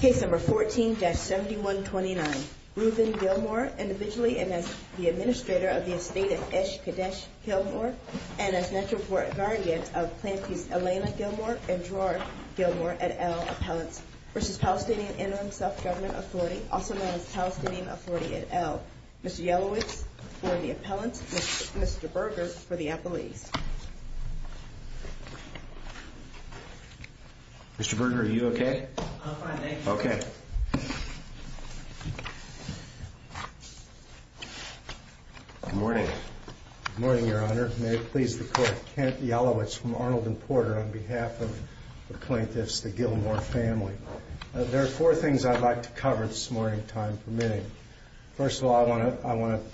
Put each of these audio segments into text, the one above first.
Case number 14-7129. Reuven Gilmore, individually and as the Administrator of the Estate of Esh Kadesh Gilmore, and as Metroport Guardian of Planties Elena Gilmore and Gerard Gilmore et al. appellants, v. Palestinian Interim Self-Government Authority, also known as Palestinian Authority et al. Mr. Yellowits for the appellants and Mr. Berger for the appellees. Mr. Berger, are you okay? I'm fine, thank you. Okay. Good morning. Good morning, Your Honor. May it please the Court. Kent Yellowits from Arnold and Porter on behalf of the plaintiffs, the Gilmore family. There are four things I'd like to cover this morning, time permitting. First of all, I want to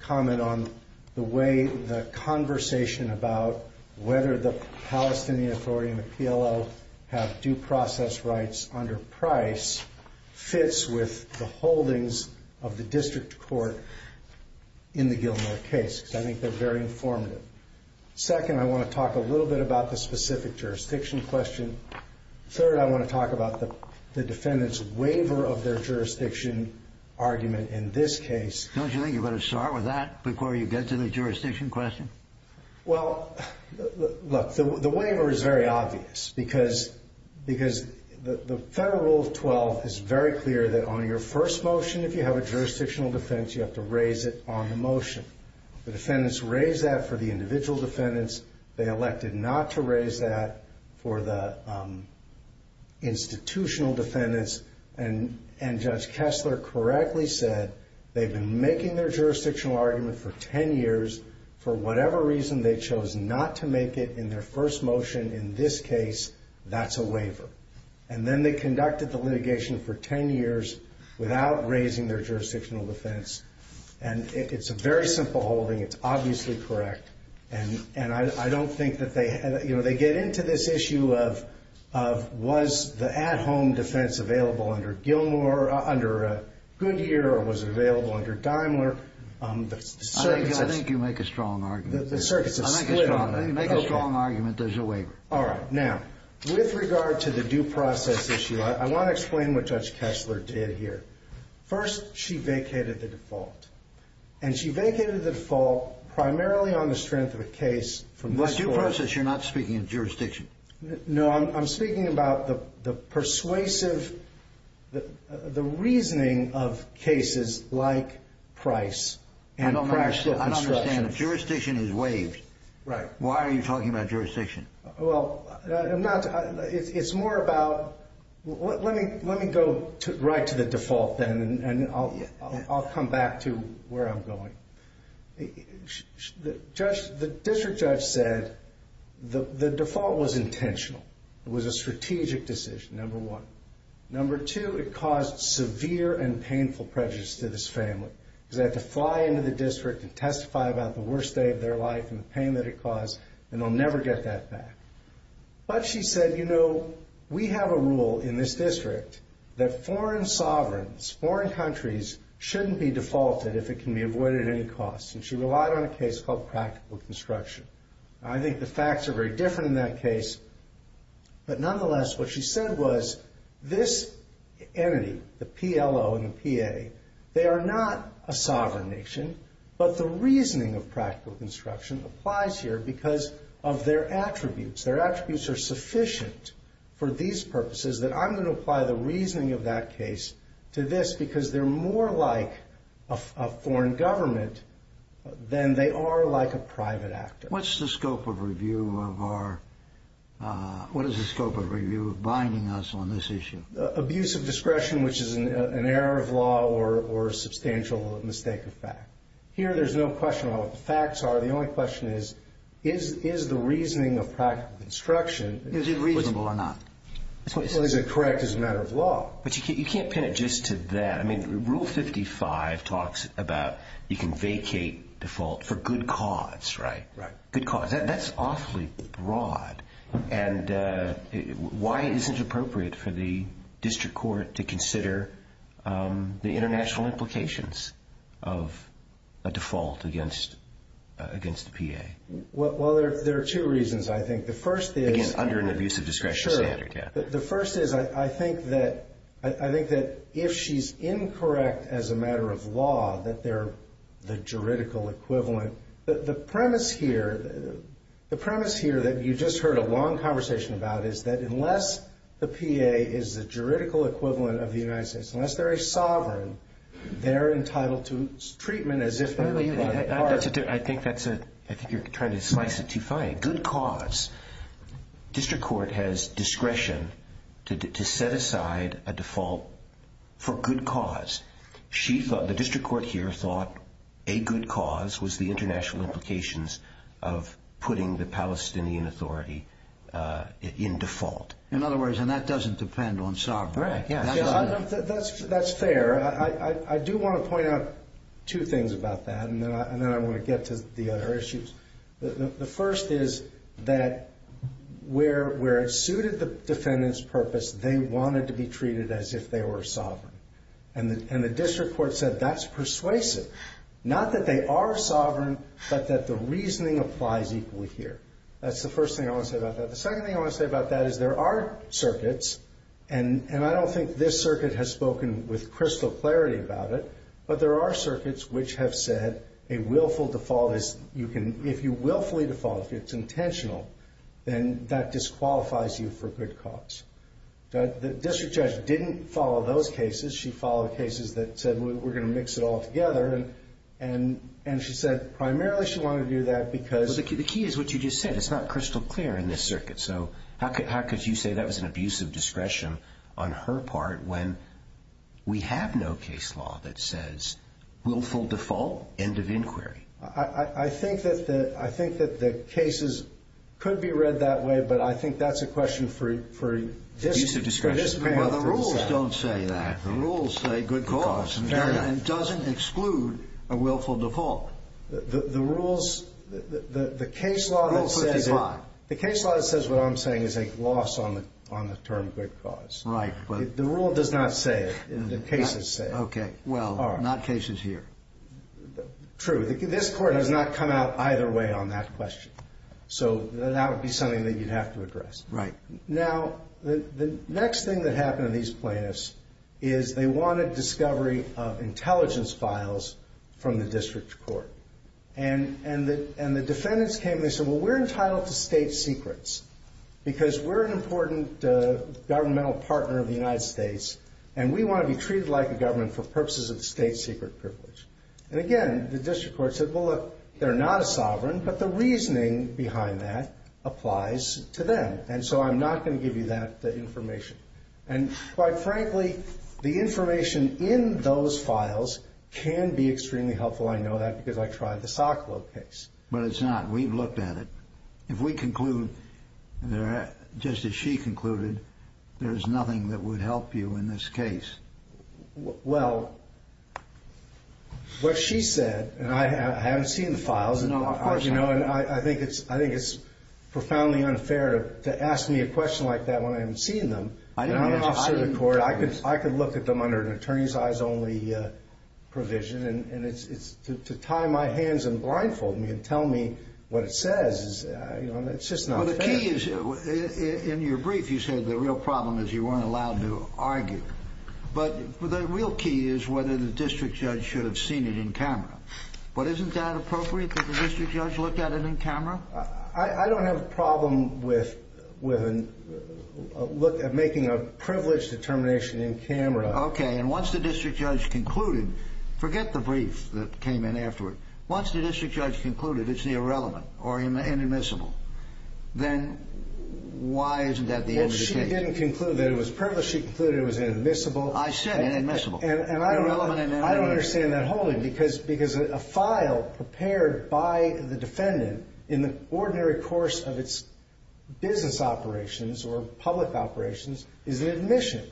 comment on the way the conversation about whether the Palestinian Authority and the PLO have due process rights under price fits with the holdings of the District Court in the Gilmore case. I think they're very informative. Second, I want to talk a little bit about the specific jurisdiction question. Third, I want to talk about the defendant's waiver of their jurisdiction argument in this case. Don't you think you better start with that before you get to the jurisdiction question? Well, look, the waiver is very obvious because the Federal Rule 12 is very clear that on your first motion, if you have a jurisdictional defense, you have to raise it on the motion. The defendants raise that for the individual defendants. They elected not to raise that for the institutional defendants. And Judge Kessler correctly said they've been making their jurisdictional argument for 10 years. For whatever reason, they chose not to make it in their first motion in this case. That's a waiver. And then they conducted the litigation for 10 years without raising their jurisdictional defense. And it's a very simple holding. It's obviously correct. And I don't think that they get into this issue of was the at-home defense available under Gilmore, under Goodyear, or was it available under Daimler? I think you make a strong argument. I think you make a strong argument there's a waiver. All right. Now, with regard to the due process issue, I want to explain what Judge Kessler did here. First, she vacated the default. And she vacated the default primarily on the strength of the case from this court. By due process, you're not speaking of jurisdiction. No, I'm speaking about the persuasive, the reasoning of cases like Price. I don't understand. If jurisdiction is waived, why are you talking about jurisdiction? Well, I'm not. It's more about let me go right to the default then, and I'll come back to where I'm going. The district judge said the default was intentional. It was a strategic decision, number one. Number two, it caused severe and painful prejudice to this family, because they had to fly into the district and testify about the worst day of their life and the pain that it caused, and they'll never get that back. But she said, you know, we have a rule in this district that foreign sovereigns, foreign countries, shouldn't be defaulted if it can be avoided at any cost. And she relied on a case called practical construction. I think the facts are very different in that case. But nonetheless, what she said was this entity, the PLO and the PA, they are not a sovereign nation, but the reasoning of practical construction applies here because of their attributes. Their attributes are sufficient for these purposes that I'm going to apply the reasoning of that case to this, because they're more like a foreign government than they are like a private actor. What's the scope of review of our ‑‑ what is the scope of review of binding us on this issue? Abuse of discretion, which is an error of law or a substantial mistake of fact. Here there's no question about what the facts are. The only question is, is the reasoning of practical construction ‑‑ Is it reasonable or not? Is it correct as a matter of law? But you can't pin it just to that. I mean, Rule 55 talks about you can vacate default for good cause, right? Right. Good cause. That's awfully broad. And why is it appropriate for the district court to consider the international implications of a default against the PA? Well, there are two reasons, I think. The first is ‑‑ Again, under an abuse of discretion standard, yeah. Sure. The first is I think that if she's incorrect as a matter of law, that they're the juridical equivalent. The premise here, the premise here that you just heard a long conversation about is that unless the PA is the juridical equivalent of the United States, unless they're a sovereign, they're entitled to treatment as if ‑‑ I think that's a ‑‑ I think you're trying to slice it too fine. Good cause. District court has discretion to set aside a default for good cause. The district court here thought a good cause was the international implications of putting the Palestinian authority in default. In other words, and that doesn't depend on sovereign. Right, yeah. That's fair. I do want to point out two things about that, and then I want to get to the other issues. The first is that where it suited the defendant's purpose, they wanted to be treated as if they were sovereign. And the district court said that's persuasive. Not that they are sovereign, but that the reasoning applies equally here. That's the first thing I want to say about that. The second thing I want to say about that is there are circuits, and I don't think this circuit has spoken with crystal clarity about it, but there are circuits which have said a willful default is ‑‑ if you willfully default, if it's intentional, then that disqualifies you for good cause. The district judge didn't follow those cases. She followed cases that said we're going to mix it all together. And she said primarily she wanted to do that because ‑‑ But the key is what you just said. It's not crystal clear in this circuit. So how could you say that was an abuse of discretion on her part when we have no case law that says willful default, end of inquiry? I think that the cases could be read that way, but I think that's a question for ‑‑ Abuse of discretion. Well, the rules don't say that. The rules say good cause, and it doesn't exclude a willful default. The rules ‑‑ the case law that says ‑‑ Rule 55. The case law that says what I'm saying is a loss on the term good cause. Right. The rule does not say it. The cases say it. Okay. Well, not cases here. True. This court has not come out either way on that question. So that would be something that you'd have to address. Right. Now, the next thing that happened to these plaintiffs is they wanted discovery of intelligence files from the district court. And the defendants came and they said, well, we're entitled to state secrets because we're an important governmental partner of the United States, and we want to be treated like a government for purposes of state secret privilege. And, again, the district court said, well, look, they're not a sovereign, but the reasoning behind that applies to them, and so I'm not going to give you that information. And, quite frankly, the information in those files can be extremely helpful. I know that because I tried the Socklow case. But it's not. We've looked at it. If we conclude, just as she concluded, there's nothing that would help you in this case. Well, what she said, and I haven't seen the files. No, of course not. And I think it's profoundly unfair to ask me a question like that when I haven't seen them. I'm an officer of the court. I could look at them under an attorney's eyes only provision, and to tie my hands and blindfold me and tell me what it says, it's just not fair. Well, the key is, in your brief, you said the real problem is you weren't allowed to argue. But the real key is whether the district judge should have seen it in camera. But isn't that appropriate that the district judge look at it in camera? I don't have a problem with making a privileged determination in camera. Okay. And once the district judge concluded, forget the brief that came in afterward. Once the district judge concluded it's irrelevant or inadmissible, then why isn't that the end of the case? Well, she didn't conclude that it was privileged. She concluded it was inadmissible. I said inadmissible. Irrelevant and inadmissible. I don't understand that wholly because a file prepared by the defendant in the ordinary course of its business operations or public operations is an admission.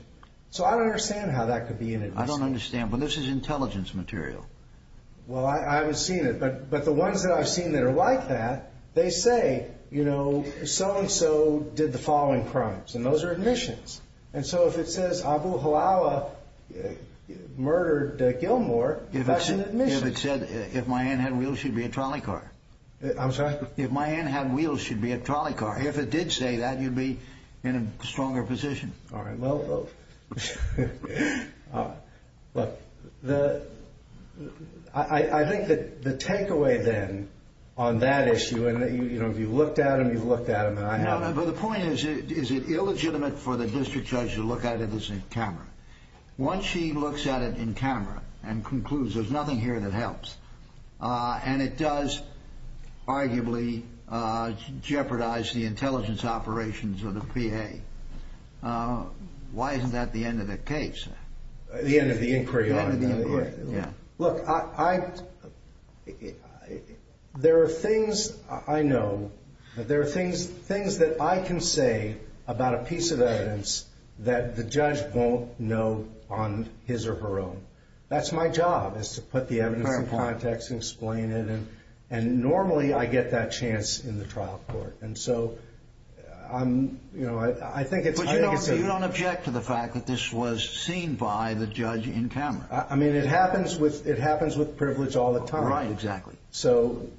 So I don't understand how that could be inadmissible. I don't understand. But this is intelligence material. Well, I haven't seen it. But the ones that I've seen that are like that, they say, you know, so-and-so did the following crimes, and those are admissions. And so if it says Abu Hilal murdered Gilmore, that's an admission. If it said if my aunt had wheels, she'd be a trolley car. I'm sorry? If my aunt had wheels, she'd be a trolley car. If it did say that, you'd be in a stronger position. All right. Well, look, I think that the takeaway then on that issue, and, you know, if you've looked at them, you've looked at them, and I haven't. But the point is, is it illegitimate for the district judge to look at it as a camera? Once she looks at it in camera and concludes there's nothing here that helps, and it does arguably jeopardize the intelligence operations of the PA, why isn't that the end of the case? The end of the inquiry. The end of the inquiry. Yeah. But I can say about a piece of evidence that the judge won't know on his or her own. That's my job, is to put the evidence in context and explain it, and normally I get that chance in the trial court. And so, you know, I think it's- But you don't object to the fact that this was seen by the judge in camera. I mean, it happens with privilege all the time. Right, exactly.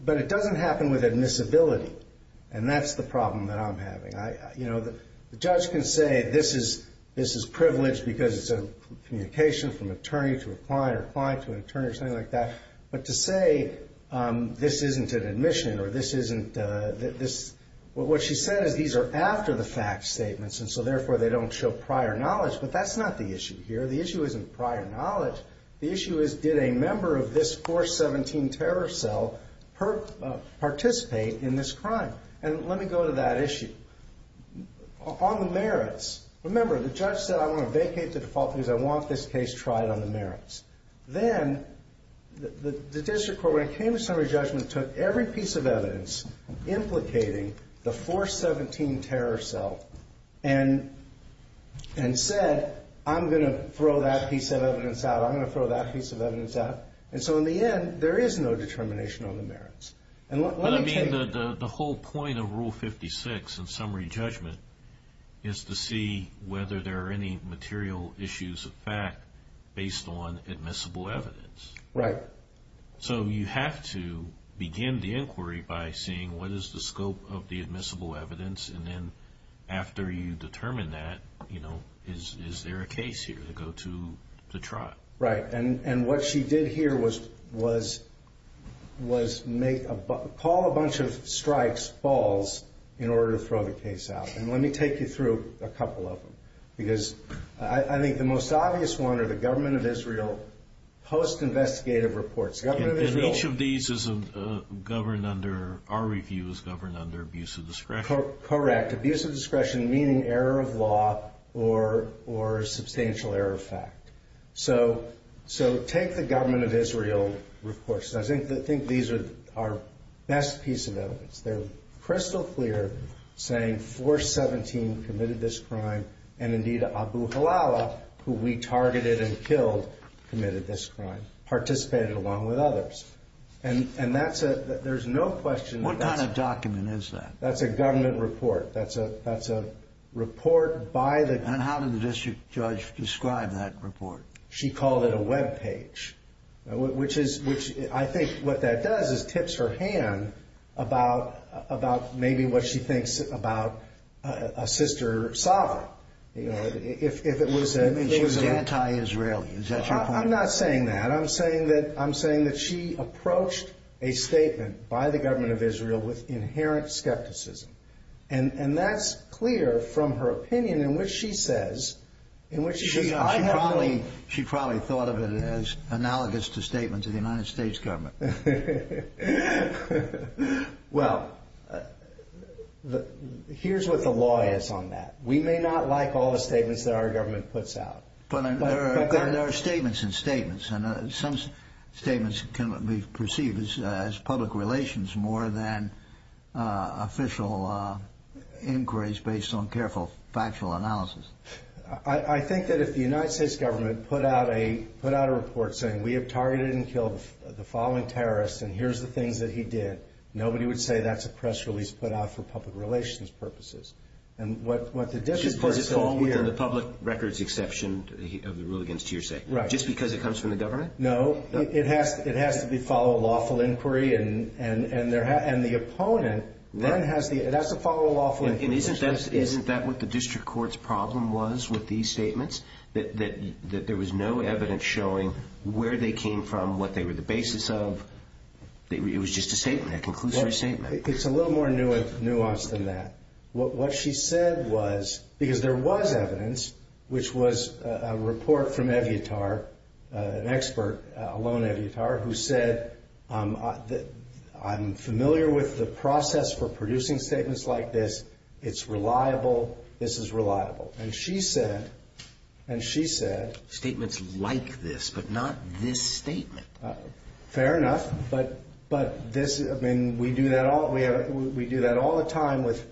But it doesn't happen with admissibility, and that's the problem that I'm having. You know, the judge can say this is privileged because it's a communication from attorney to a client or a client to an attorney or something like that. But to say this isn't an admission or this isn't- What she said is these are after the fact statements, and so therefore they don't show prior knowledge, but that's not the issue here. The issue isn't prior knowledge. The issue is, did a member of this 417 terror cell participate in this crime? And let me go to that issue. On the merits, remember, the judge said, I'm going to vacate the default because I want this case tried on the merits. Then the district court, when it came to summary judgment, took every piece of evidence implicating the 417 terror cell and said, I'm going to throw that piece of evidence out. I'm going to throw that piece of evidence out. And so in the end, there is no determination on the merits. And let me tell you- But I mean, the whole point of Rule 56 in summary judgment is to see whether there are any material issues of fact based on admissible evidence. Right. So you have to begin the inquiry by seeing what is the scope of the admissible evidence, and then after you determine that, is there a case here to go to the trial? Right. And what she did here was call a bunch of strikes, falls, in order to throw the case out. And let me take you through a couple of them. Because I think the most obvious one are the Government of Israel post-investigative reports. Government of Israel- And each of these is governed under- our review is governed under abuse of discretion. Correct. Abuse of discretion meaning error of law or substantial error of fact. So take the Government of Israel reports. I think these are our best piece of evidence. They're crystal clear saying 417 committed this crime, and indeed Abu Halala, who we targeted and killed, committed this crime, participated along with others. And that's a- there's no question- What kind of document is that? That's a government report. That's a report by the- And how did the district judge describe that report? She called it a webpage. Which is- I think what that does is tips her hand about maybe what she thinks about a sister sovereign. If it was a- And she was anti-Israeli. Is that your point? I'm not saying that. I'm saying that she approached a statement by the Government of Israel with inherent skepticism. And that's clear from her opinion in which she says- She probably thought of it as analogous to statements of the United States government. Well, here's what the law is on that. We may not like all the statements that our government puts out. But there are statements and statements. And some statements can be perceived as public relations more than official inquiries based on careful factual analysis. I think that if the United States government put out a report saying, we have targeted and killed the following terrorists and here's the things that he did, nobody would say that's a press release put out for public relations purposes. And what the district court said here- Because it's all within the public records exception of the rule against hearsay. Right. Just because it comes from the government? No. It has to follow a lawful inquiry. And the opponent then has to follow a lawful inquiry. And isn't that what the district court's problem was with these statements? That there was no evidence showing where they came from, what they were the basis of. It was just a statement, a conclusory statement. It's a little more nuanced than that. What she said was- Because there was evidence, which was a report from Eviatar, an expert, Alon Eviatar, who said, I'm familiar with the process for producing statements like this. It's reliable. This is reliable. And she said- Statements like this, but not this statement. Fair enough. But this- I mean, we do that all the time with-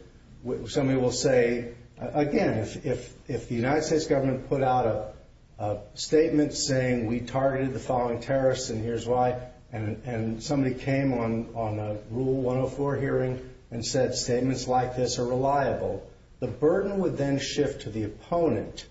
Somebody will say, again, if the United States government put out a statement saying, we targeted the following terrorists and here's why, and somebody came on a Rule 104 hearing and said statements like this are reliable, the burden would then shift to the opponent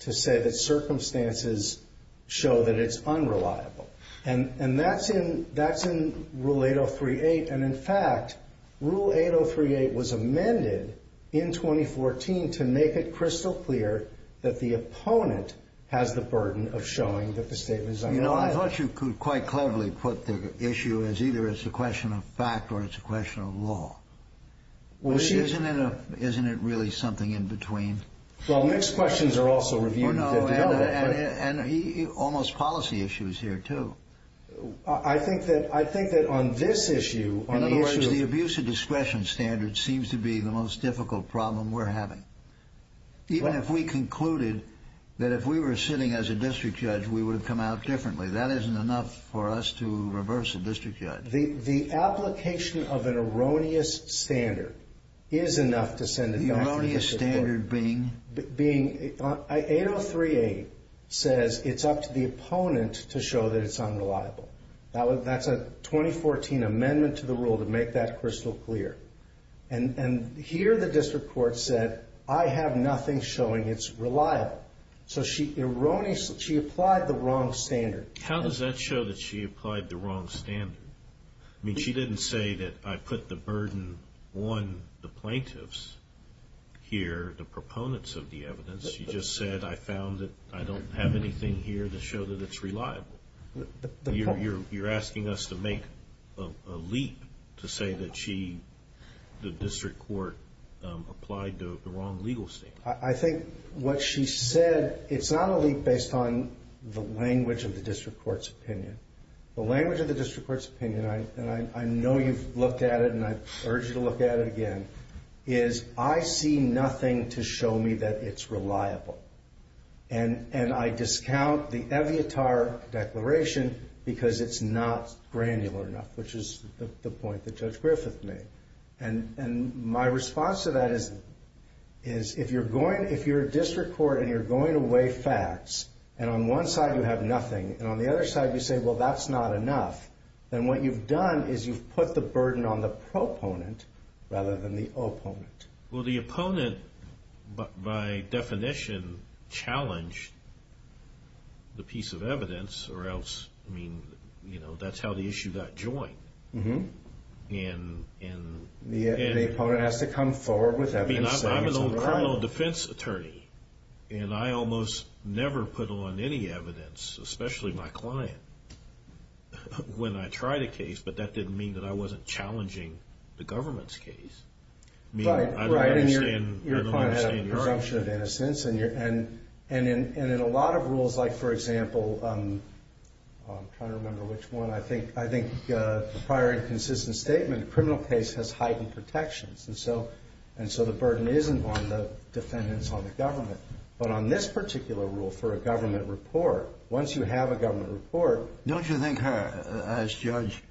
to say that circumstances show that it's unreliable. And that's in Rule 803.8. And, in fact, Rule 803.8 was amended in 2014 to make it crystal clear that the opponent has the burden of showing that the statement is unreliable. You know, I thought you could quite cleverly put the issue as either it's a question of fact or it's a question of law. Well, she- Isn't it really something in between? Well, mixed questions are also reviewed. And almost policy issues here, too. I think that on this issue- In other words, the abuse of discretion standard seems to be the most difficult problem we're having. Even if we concluded that if we were sitting as a district judge, we would have come out differently. That isn't enough for us to reverse a district judge. The application of an erroneous standard is enough to send it back to the district court. The erroneous standard being? 803.8 says it's up to the opponent to show that it's unreliable. That's a 2014 amendment to the rule to make that crystal clear. And here the district court said, I have nothing showing it's reliable. So she applied the wrong standard. How does that show that she applied the wrong standard? I mean, she didn't say that I put the burden on the plaintiffs here, the proponents of the evidence. She just said, I found that I don't have anything here to show that it's reliable. You're asking us to make a leap to say that she, the district court, applied the wrong legal standard. I think what she said, it's not a leap based on the language of the district court's opinion. The language of the district court's opinion, and I know you've looked at it and I urge you to look at it again, is I see nothing to show me that it's reliable. And I discount the Eviatar Declaration because it's not granular enough, which is the point that Judge Griffith made. And my response to that is, if you're a district court and you're going to weigh facts, and on one side you have nothing, and on the other side you say, well, that's not enough, then what you've done is you've put the burden on the proponent rather than the opponent. Well, the opponent, by definition, challenged the piece of evidence, or else, I mean, that's how the issue got joined. And the opponent has to come forward with evidence. I mean, I'm an old criminal defense attorney, and I almost never put on any evidence, especially my client, when I tried a case, but that didn't mean that I wasn't challenging the government's case. I mean, I don't understand your argument. Right, and your client had a presumption of innocence, and in a lot of rules, like, for example, I'm trying to remember which one, I think the prior inconsistent statement, a criminal case has heightened protections, and so the burden isn't on the defendants, on the government. But on this particular rule for a government report, once you have a government report... Don't you think her, as Judge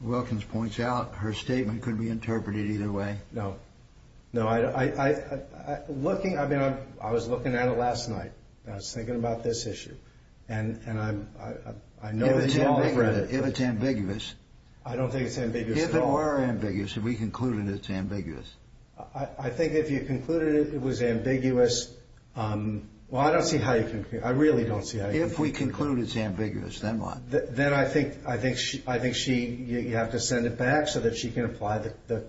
Wilkins points out, her statement could be interpreted either way? No. No, looking, I mean, I was looking at it last night, and I was thinking about this issue, and I know that you all have read it. If it's ambiguous. I don't think it's ambiguous at all. If it were ambiguous, if we concluded it's ambiguous. I think if you concluded it was ambiguous, well, I don't see how you can, I really don't see how you can... If we conclude it's ambiguous, then what? Then I think she, you have to send it back so that she can apply the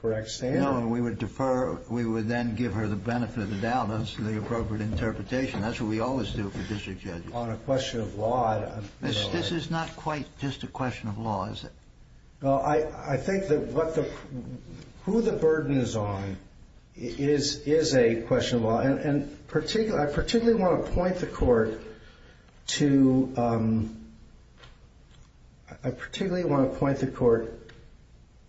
correct statement. No, and we would defer, we would then give her the benefit of the doubt, that's the appropriate interpretation. That's what we always do for district judges. On a question of law, I don't know... This is not quite just a question of law, is it? No, I think that what the, who the burden is on is a question of law, and particularly, I particularly want to point the court to, I particularly want to point the court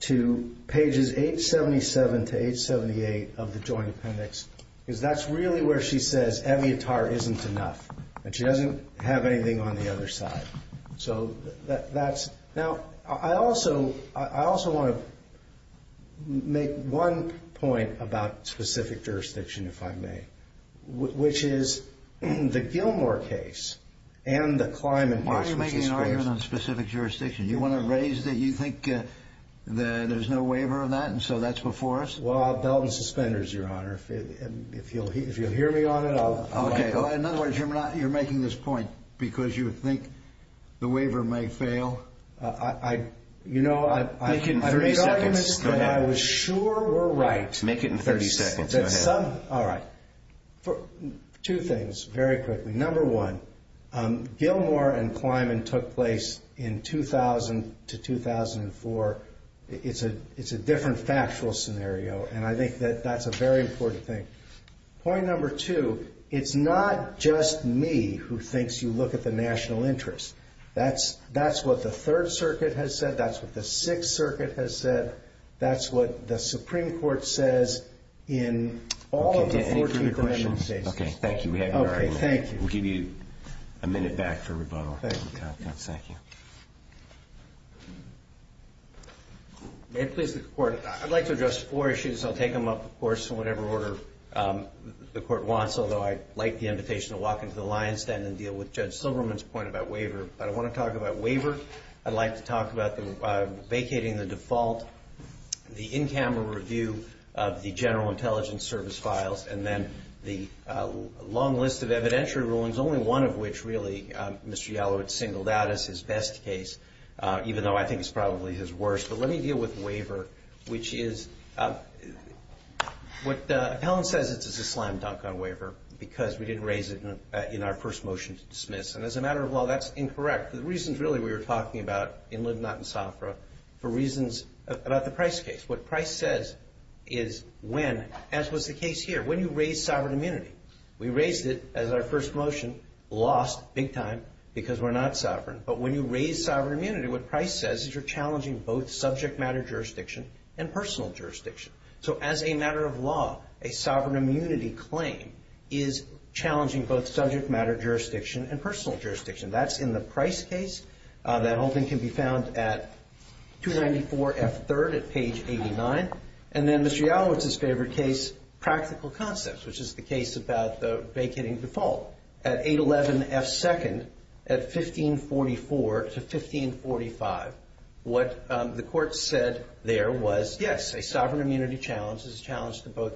to pages 877 to 878 of the Joint Appendix, because that's really where she says, Eviatar isn't enough, that she doesn't have anything on the other side. So, that's, now, I also, I also want to make one point about specific jurisdiction, if I may, which is the Gilmore case, and the Kleinman case... You're making an argument on specific jurisdiction. You want to raise that you think that there's no waiver of that, and so that's before us? Well, I'll belt and suspend her, Your Honor. If you'll hear me on it, I'll... Okay, in other words, you're making this point because you think the waiver may fail? I, you know, I've made arguments that I was sure were right. Make it in 30 seconds. Go ahead. All right. Two things, very quickly. Number one, Gilmore and Kleinman took place in 2000 to 2004. It's a different factual scenario, and I think that that's a very important thing. Point number two, it's not just me who thinks you look at the national interest. That's what the Third Circuit has said. That's what the Sixth Circuit has said. That's what the Supreme Court says in all of the 14 Kleinman cases. Okay, thank you. We have your argument. Okay, thank you. We'll give you a minute back for rebuttal. Thank you. Thank you. May it please the Court, I'd like to address four issues. I'll take them up, of course, in whatever order the Court wants, although I'd like the invitation to walk into the lion's den and deal with Judge Silverman's point about waiver. But I want to talk about waiver. I'd like to talk about vacating the default, the in-camera review of the general intelligence service files, and then the long list of evidentiary rulings, only one of which, really, Mr. Yalowitz singled out as his best case, even though I think it's probably his worst. But let me deal with waiver, which is what Appellant says is it's a slam dunk on waiver because we didn't raise it in our first motion to dismiss. And as a matter of law, that's incorrect. The reasons, really, we were talking about in Lib Not and Sofra for reasons about the Price case. What Price says is when, as was the case here, when you raise sovereign immunity, we raised it as our first motion, lost big time because we're not sovereign. But when you raise sovereign immunity, what Price says is you're challenging both subject matter jurisdiction and personal jurisdiction. So as a matter of law, a sovereign immunity claim is challenging both subject matter jurisdiction and personal jurisdiction. That's in the Price case. That whole thing can be found at 294F3 at page 89. And then Mr. Yalowitz's favorite case, practical concepts, which is the case about the vacating default, at 811F2 at 1544 to 1545. What the court said there was, yes, a sovereign immunity challenge is a challenge to both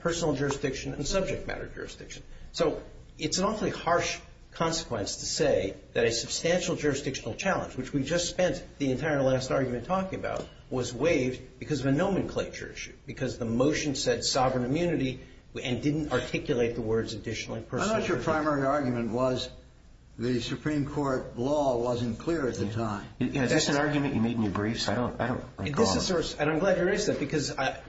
personal jurisdiction and subject matter jurisdiction. So it's an awfully harsh consequence to say that a substantial jurisdictional challenge, which we just spent the entire last argument talking about, was waived because of a nomenclature issue, because the motion said sovereign immunity and didn't articulate the words additional and personal jurisdiction. I thought your primary argument was the Supreme Court law wasn't clear at the time. That's an argument you made in your briefs. I don't recall. And I'm glad you raised that because I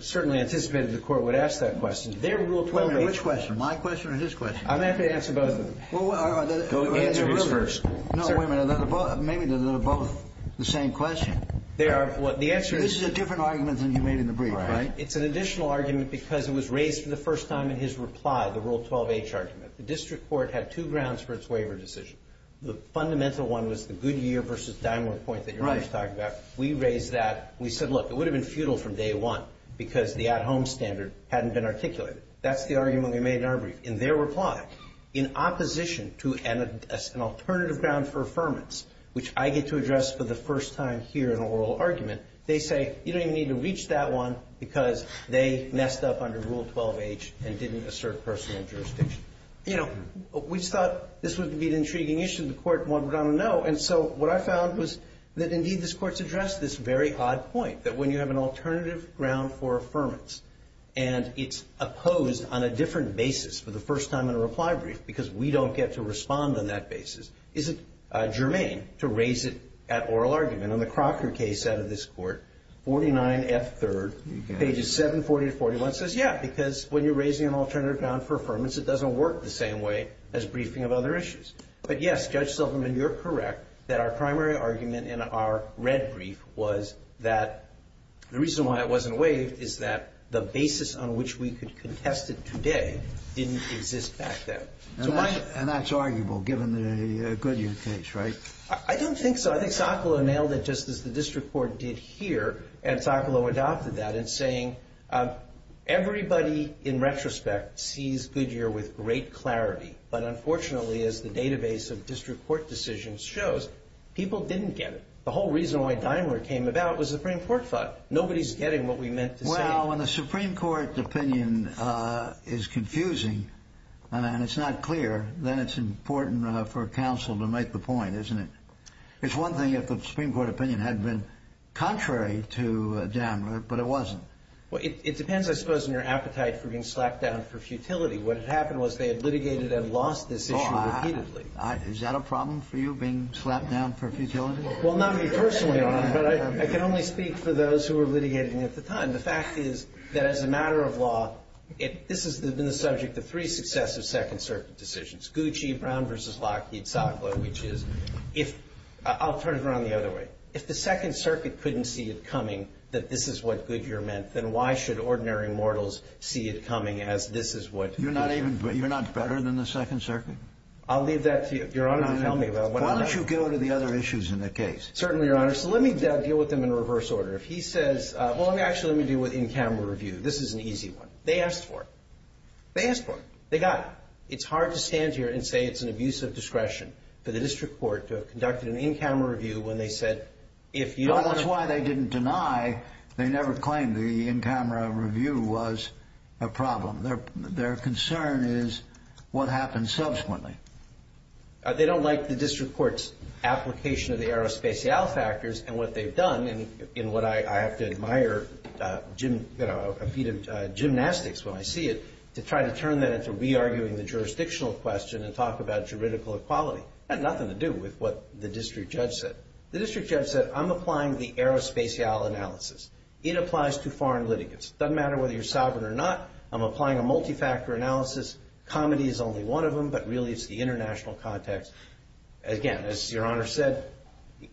certainly anticipated the court would ask that question. Which question? My question or his question? I'm happy to answer both of them. Answer his first. No, wait a minute. Maybe they're both the same question. They are. This is a different argument than you made in the brief, right? It's an additional argument because it was raised for the first time in his reply, the Rule 12H argument. The district court had two grounds for its waiver decision. The fundamental one was the Goodyear v. Diamond point that your mother talked about. We raised that. We said, look, it would have been futile from day one because the at-home standard hadn't been articulated. That's the argument we made in our brief. In their reply, in opposition to an alternative ground for affirmance, which I get to address for the first time here in an oral argument, they say you don't even need to reach that one because they messed up under Rule 12H and didn't assert personal jurisdiction. You know, we thought this would be an intriguing issue. The court wanted to know. And so what I found was that, indeed, this Court's addressed this very odd point, that when you have an alternative ground for affirmance and it's opposed on a different basis for the first time on a reply brief because we don't get to respond on that basis, is it germane to raise it at oral argument? On the Crocker case out of this Court, 49F3rd, pages 740 to 741, says, yeah, because when you're raising an alternative ground for affirmance, it doesn't work the same way as briefing of other issues. But, yes, Judge Silverman, you're correct that our primary argument in our red brief was that the reason why it wasn't waived is that the basis on which we could contest it today didn't exist back then. And that's arguable, given the Goodyear case, right? I don't think so. I think Socolow nailed it just as the district court did here. And Socolow adopted that in saying everybody, in retrospect, sees Goodyear with great clarity. But, unfortunately, as the database of district court decisions shows, people didn't get it. The whole reason why Daimler came about was the Supreme Court thought. Nobody's getting what we meant to say. Well, when the Supreme Court opinion is confusing and it's not clear, then it's important for counsel to make the point, isn't it? It's one thing if the Supreme Court opinion had been contrary to Daimler, but it wasn't. Well, it depends, I suppose, on your appetite for being slapped down for futility. What had happened was they had litigated and lost this issue repeatedly. Is that a problem for you, being slapped down for futility? Well, not me personally, Your Honor, but I can only speak for those who were litigating at the time. The fact is that as a matter of law, this has been the subject of three successive Second Circuit decisions, Gucci, Brown v. Lockheed, Socolow, which is if – I'll turn it around the other way. If the Second Circuit couldn't see it coming that this is what Goodyear meant, then why should ordinary mortals see it coming as this is what – You're not even – you're not better than the Second Circuit? I'll leave that to you, Your Honor, to tell me about what I'm not – Why don't you go to the other issues in the case? Certainly, Your Honor. So let me deal with them in reverse order. If he says – well, actually, let me deal with in-camera review. This is an easy one. They asked for it. They asked for it. They got it. It's hard to stand here and say it's an abuse of discretion for the district court to have conducted an in-camera review when they said if you – Well, that's why they didn't deny – they never claimed the in-camera review was a problem. Their concern is what happens subsequently. They don't like the district court's application of the aerospatial factors and what they've done in what I have to admire gymnastics when I see it, to try to turn that into re-arguing the jurisdictional question and talk about juridical equality. It had nothing to do with what the district judge said. The district judge said, I'm applying the aerospatial analysis. It applies to foreign litigants. It doesn't matter whether you're sovereign or not. I'm applying a multifactor analysis. Comedy is only one of them, but really it's the international context. Again, as Your Honor said,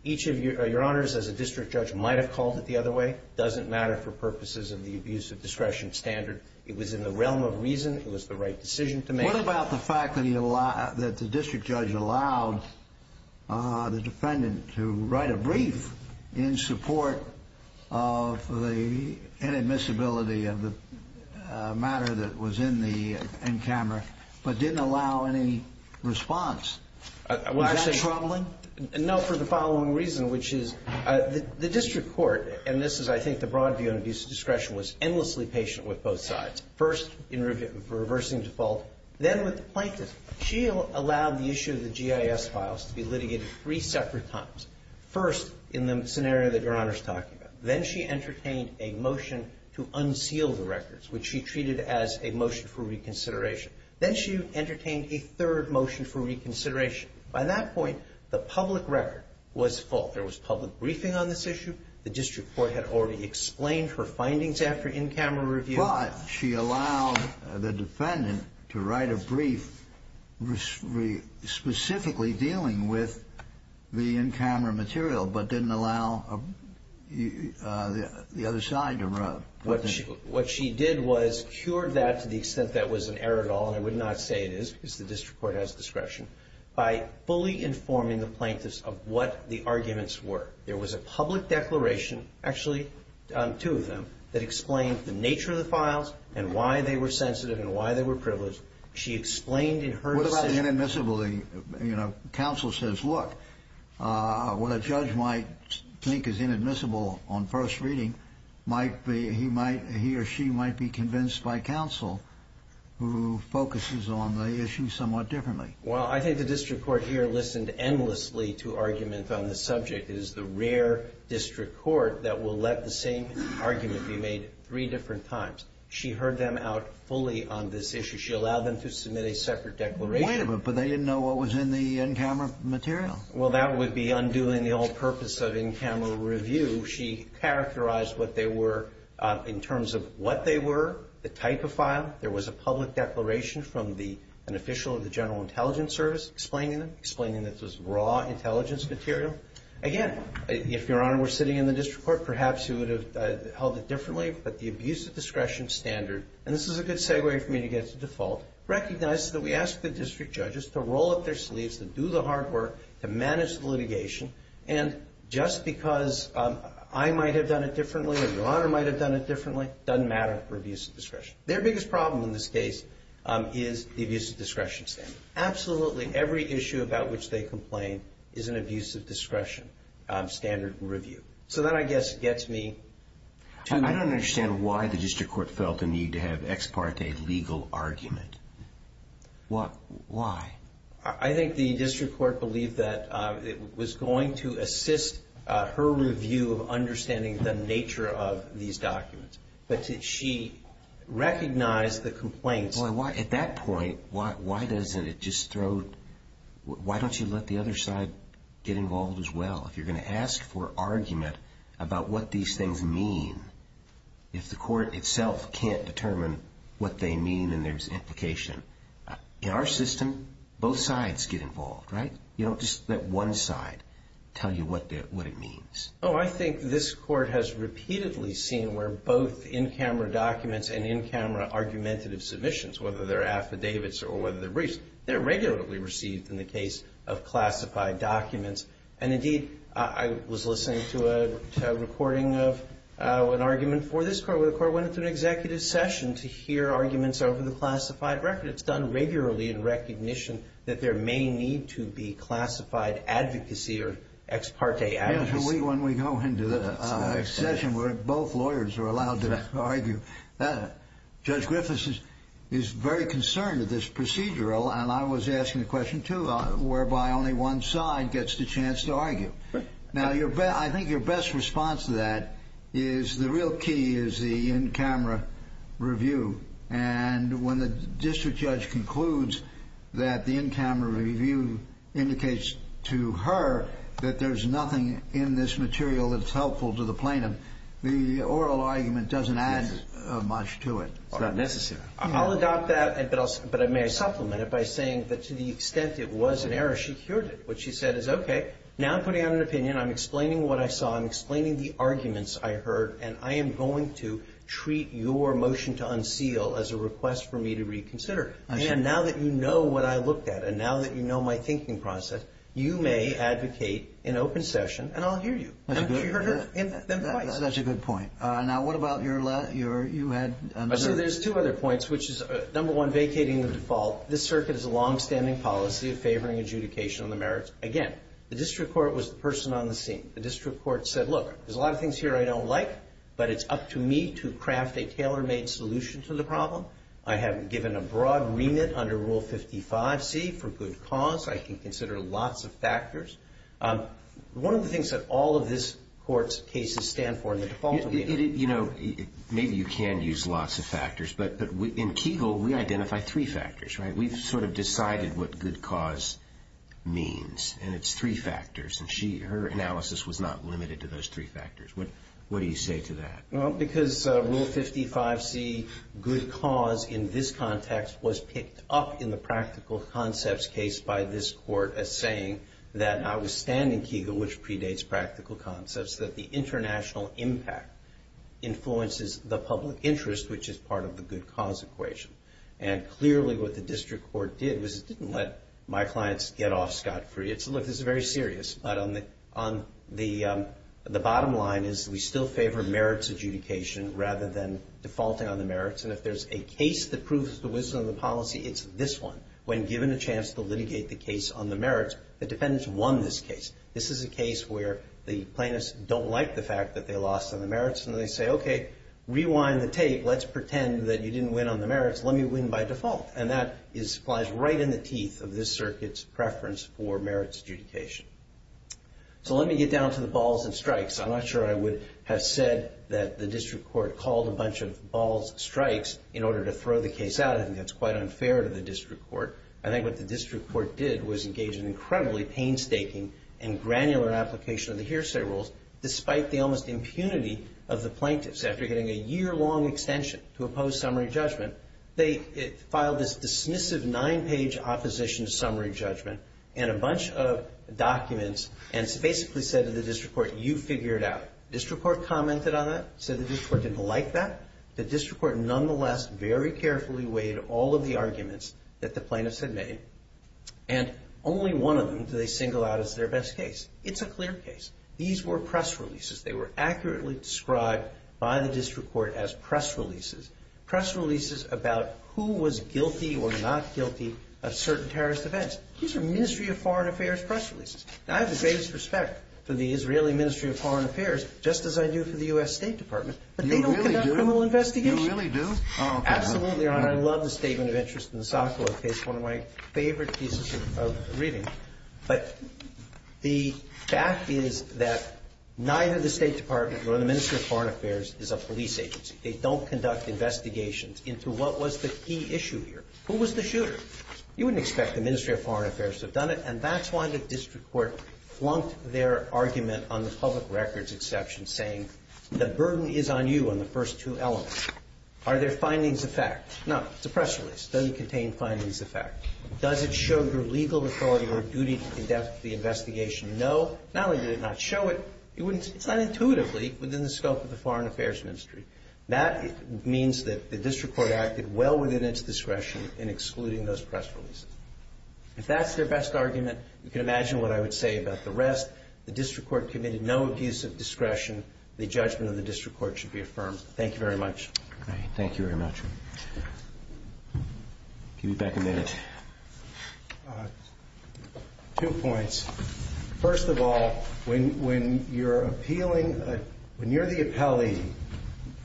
each of – Your Honors, as a district judge, might have called it the other way. It doesn't matter for purposes of the abuse of discretion standard. It was in the realm of reason. It was the right decision to make. What about the fact that the district judge allowed the defendant to write a brief in support of the inadmissibility of the matter that was in the N-camera but didn't allow any response? Was that troubling? No, for the following reason, which is the district court, and this is I think the broad view on abuse of discretion, was endlessly patient with both sides. First, in reversing default, then with the plaintiff. She allowed the issue of the GIS files to be litigated three separate times. First, in the scenario that Your Honor is talking about. Then she entertained a motion to unseal the records, which she treated as a motion for reconsideration. Then she entertained a third motion for reconsideration. By that point, the public record was full. There was public briefing on this issue. The district court had already explained her findings after N-camera review. But she allowed the defendant to write a brief specifically dealing with the N-camera material but didn't allow the other side to run. What she did was cured that to the extent that was an error at all, and I would not say it is because the district court has discretion, by fully informing the plaintiffs of what the arguments were. There was a public declaration, actually two of them, that explained the nature of the files and why they were sensitive and why they were privileged. She explained in her decision. What about inadmissibility? You know, counsel says, look, what a judge might think is inadmissible on first reading, he or she might be convinced by counsel who focuses on the issue somewhat differently. Well, I think the district court here listened endlessly to arguments on this subject. It is the rare district court that will let the same argument be made three different times. She heard them out fully on this issue. She allowed them to submit a separate declaration. Wait a minute. But they didn't know what was in the N-camera material. Well, that would be undoing the whole purpose of N-camera review. She characterized what they were in terms of what they were, the type of file. There was a public declaration from an official of the General Intelligence Service explaining them, explaining that this was raw intelligence material. Again, if Your Honor were sitting in the district court, perhaps you would have held it differently. But the abuse of discretion standard, and this is a good segue for me to get to default, recognizes that we ask the district judges to roll up their sleeves, to do the hard work, to manage the litigation. And just because I might have done it differently or Your Honor might have done it differently, doesn't matter for abuse of discretion. Their biggest problem in this case is the abuse of discretion standard. Absolutely every issue about which they complain is an abuse of discretion standard review. So that, I guess, gets me to- I don't understand why the district court felt the need to have ex parte legal argument. Why? I think the district court believed that it was going to assist her review of understanding the nature of these documents. But did she recognize the complaints? At that point, why doesn't it just throw-why don't you let the other side get involved as well? If you're going to ask for argument about what these things mean, if the court itself can't determine what they mean and there's implication. In our system, both sides get involved, right? You don't just let one side tell you what it means. Oh, I think this court has repeatedly seen where both in-camera documents and in-camera argumentative submissions, whether they're affidavits or whether they're briefs, they're regularly received in the case of classified documents. And indeed, I was listening to a recording of an argument for this court where the court went through an executive session to hear arguments over the classified record. It's done regularly in recognition that there may need to be classified advocacy or ex parte advocacy. When we go into a session where both lawyers are allowed to argue, Judge Griffiths is very concerned at this procedural, and I was asking the question too, whereby only one side gets the chance to argue. Now, I think your best response to that is the real key is the in-camera review. And when the district judge concludes that the in-camera review indicates to her that there's nothing in this material that's helpful to the plaintiff, the oral argument doesn't add much to it. It's not necessary. I'll adopt that, but may I supplement it by saying that to the extent it was an error, she cured it. What she said is, okay, now I'm putting out an opinion, I'm explaining what I saw, I'm explaining the arguments I heard, and I am going to treat your motion to unseal as a request for me to reconsider. And now that you know what I looked at, and now that you know my thinking process, you may advocate in open session, and I'll hear you. That's a good point. Now, what about your left? You had another. I see there's two other points, which is, number one, vacating the default. This circuit is a longstanding policy of favoring adjudication on the merits. Again, the district court was the person on the scene. The district court said, look, there's a lot of things here I don't like, but it's up to me to craft a tailor-made solution to the problem. I have given a broad remit under Rule 55C for good cause. I can consider lots of factors. One of the things that all of this Court's cases stand for in the default opinion. You know, maybe you can use lots of factors, but in Kegel, we identify three factors, right? We've sort of decided what good cause means, and it's three factors. And her analysis was not limited to those three factors. What do you say to that? Well, because Rule 55C, good cause in this context, was picked up in the practical concepts case by this Court as saying that, notwithstanding Kegel, which predates practical concepts, that the international impact influences the public interest, which is part of the good cause equation. And clearly what the district court did was it didn't let my clients get off scot-free. Look, this is very serious, but the bottom line is we still favor merits adjudication rather than defaulting on the merits. And if there's a case that proves the wisdom of the policy, it's this one. When given a chance to litigate the case on the merits, the defendants won this case. This is a case where the plaintiffs don't like the fact that they lost on the merits, and they say, okay, rewind the tape. Let's pretend that you didn't win on the merits. Let me win by default. And that flies right in the teeth of this circuit's preference for merits adjudication. So let me get down to the balls and strikes. I'm not sure I would have said that the district court called a bunch of balls and strikes in order to throw the case out. I think that's quite unfair to the district court. I think what the district court did was engage in incredibly painstaking and granular application of the hearsay rules, despite the almost impunity of the plaintiffs. After getting a year-long extension to oppose summary judgment, they filed this dismissive nine-page opposition to summary judgment and a bunch of documents and basically said to the district court, you figure it out. The district court commented on that, said the district court didn't like that. The district court nonetheless very carefully weighed all of the arguments that the plaintiffs had made, and only one of them did they single out as their best case. It's a clear case. These were press releases. They were accurately described by the district court as press releases. Press releases about who was guilty or not guilty of certain terrorist events. These are Ministry of Foreign Affairs press releases. And I have the greatest respect for the Israeli Ministry of Foreign Affairs, just as I do for the U.S. State Department. But they don't conduct criminal investigations. You really do? You really do? Absolutely, Your Honor. I love the statement of interest in the Sokolov case, one of my favorite pieces of reading. But the fact is that neither the State Department nor the Ministry of Foreign Affairs is a police agency. They don't conduct investigations into what was the key issue here. Who was the shooter? You wouldn't expect the Ministry of Foreign Affairs to have done it. And that's why the district court flunked their argument on the public records exception, saying the burden is on you on the first two elements. Are there findings of fact? No. It's a press release. Doesn't contain findings of fact. Does it show your legal authority or duty to conduct the investigation? No. Not only did it not show it, you wouldn't see it. within the scope of the Foreign Affairs Ministry. That means that the district court acted well within its discretion in excluding those press releases. If that's their best argument, you can imagine what I would say about the rest. The district court committed no abuse of discretion. The judgment of the district court should be affirmed. Thank you very much. Thank you very much. Give me back a minute. Two points. First of all, when you're appealing, when you're the appellee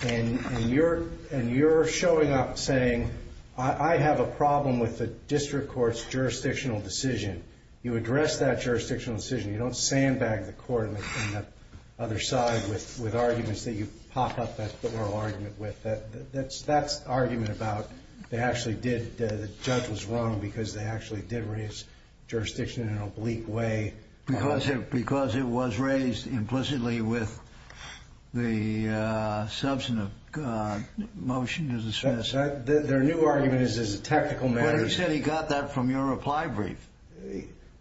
and you're showing up saying, I have a problem with the district court's jurisdictional decision, you address that jurisdictional decision. You don't sandbag the court on the other side with arguments that you pop up that oral argument with. That's argument about they actually did. The judge was wrong because they actually did raise jurisdiction in an oblique way. Because it was raised implicitly with the substantive motion to dismiss. Their new argument is a technical matter. But he said he got that from your reply brief.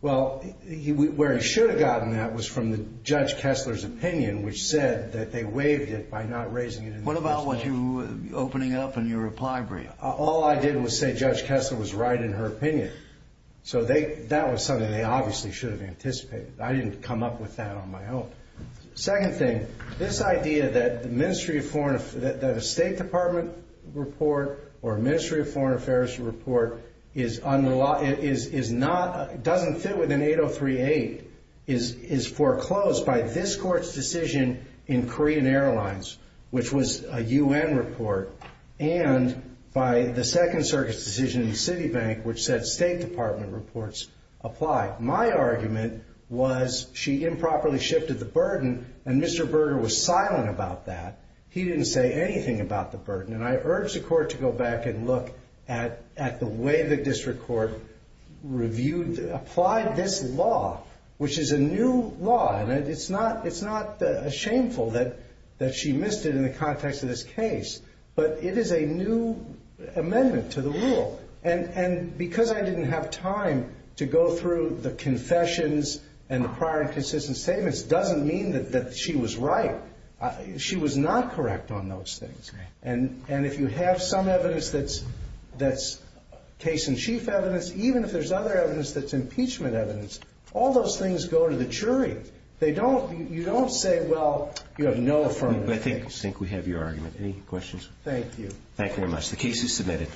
Well, where he should have gotten that was from Judge Kessler's opinion, which said that they waived it by not raising it. What about what you opening up in your reply brief? All I did was say Judge Kessler was right in her opinion. So that was something they obviously should have anticipated. I didn't come up with that on my own. Second thing, this idea that a State Department report or a Ministry of Foreign Affairs report doesn't fit within 8038 is foreclosed by this court's decision in Korean Airlines, which was a U.N. report, and by the Second Circuit's decision in Citibank, which said State Department reports apply. My argument was she improperly shifted the burden, and Mr. Berger was silent about that. He didn't say anything about the burden. And I urge the court to go back and look at the way the district court reviewed, applied this law, which is a new law. And it's not shameful that she missed it in the context of this case, but it is a new amendment to the rule. And because I didn't have time to go through the confessions and the prior inconsistent statements doesn't mean that she was right. She was not correct on those things. And if you have some evidence that's case-in-chief evidence, even if there's other evidence that's impeachment evidence, all those things go to the jury. You don't say, well, you have no affirmative evidence. I think we have your argument. Any questions? Thank you. Thank you very much. The case is submitted.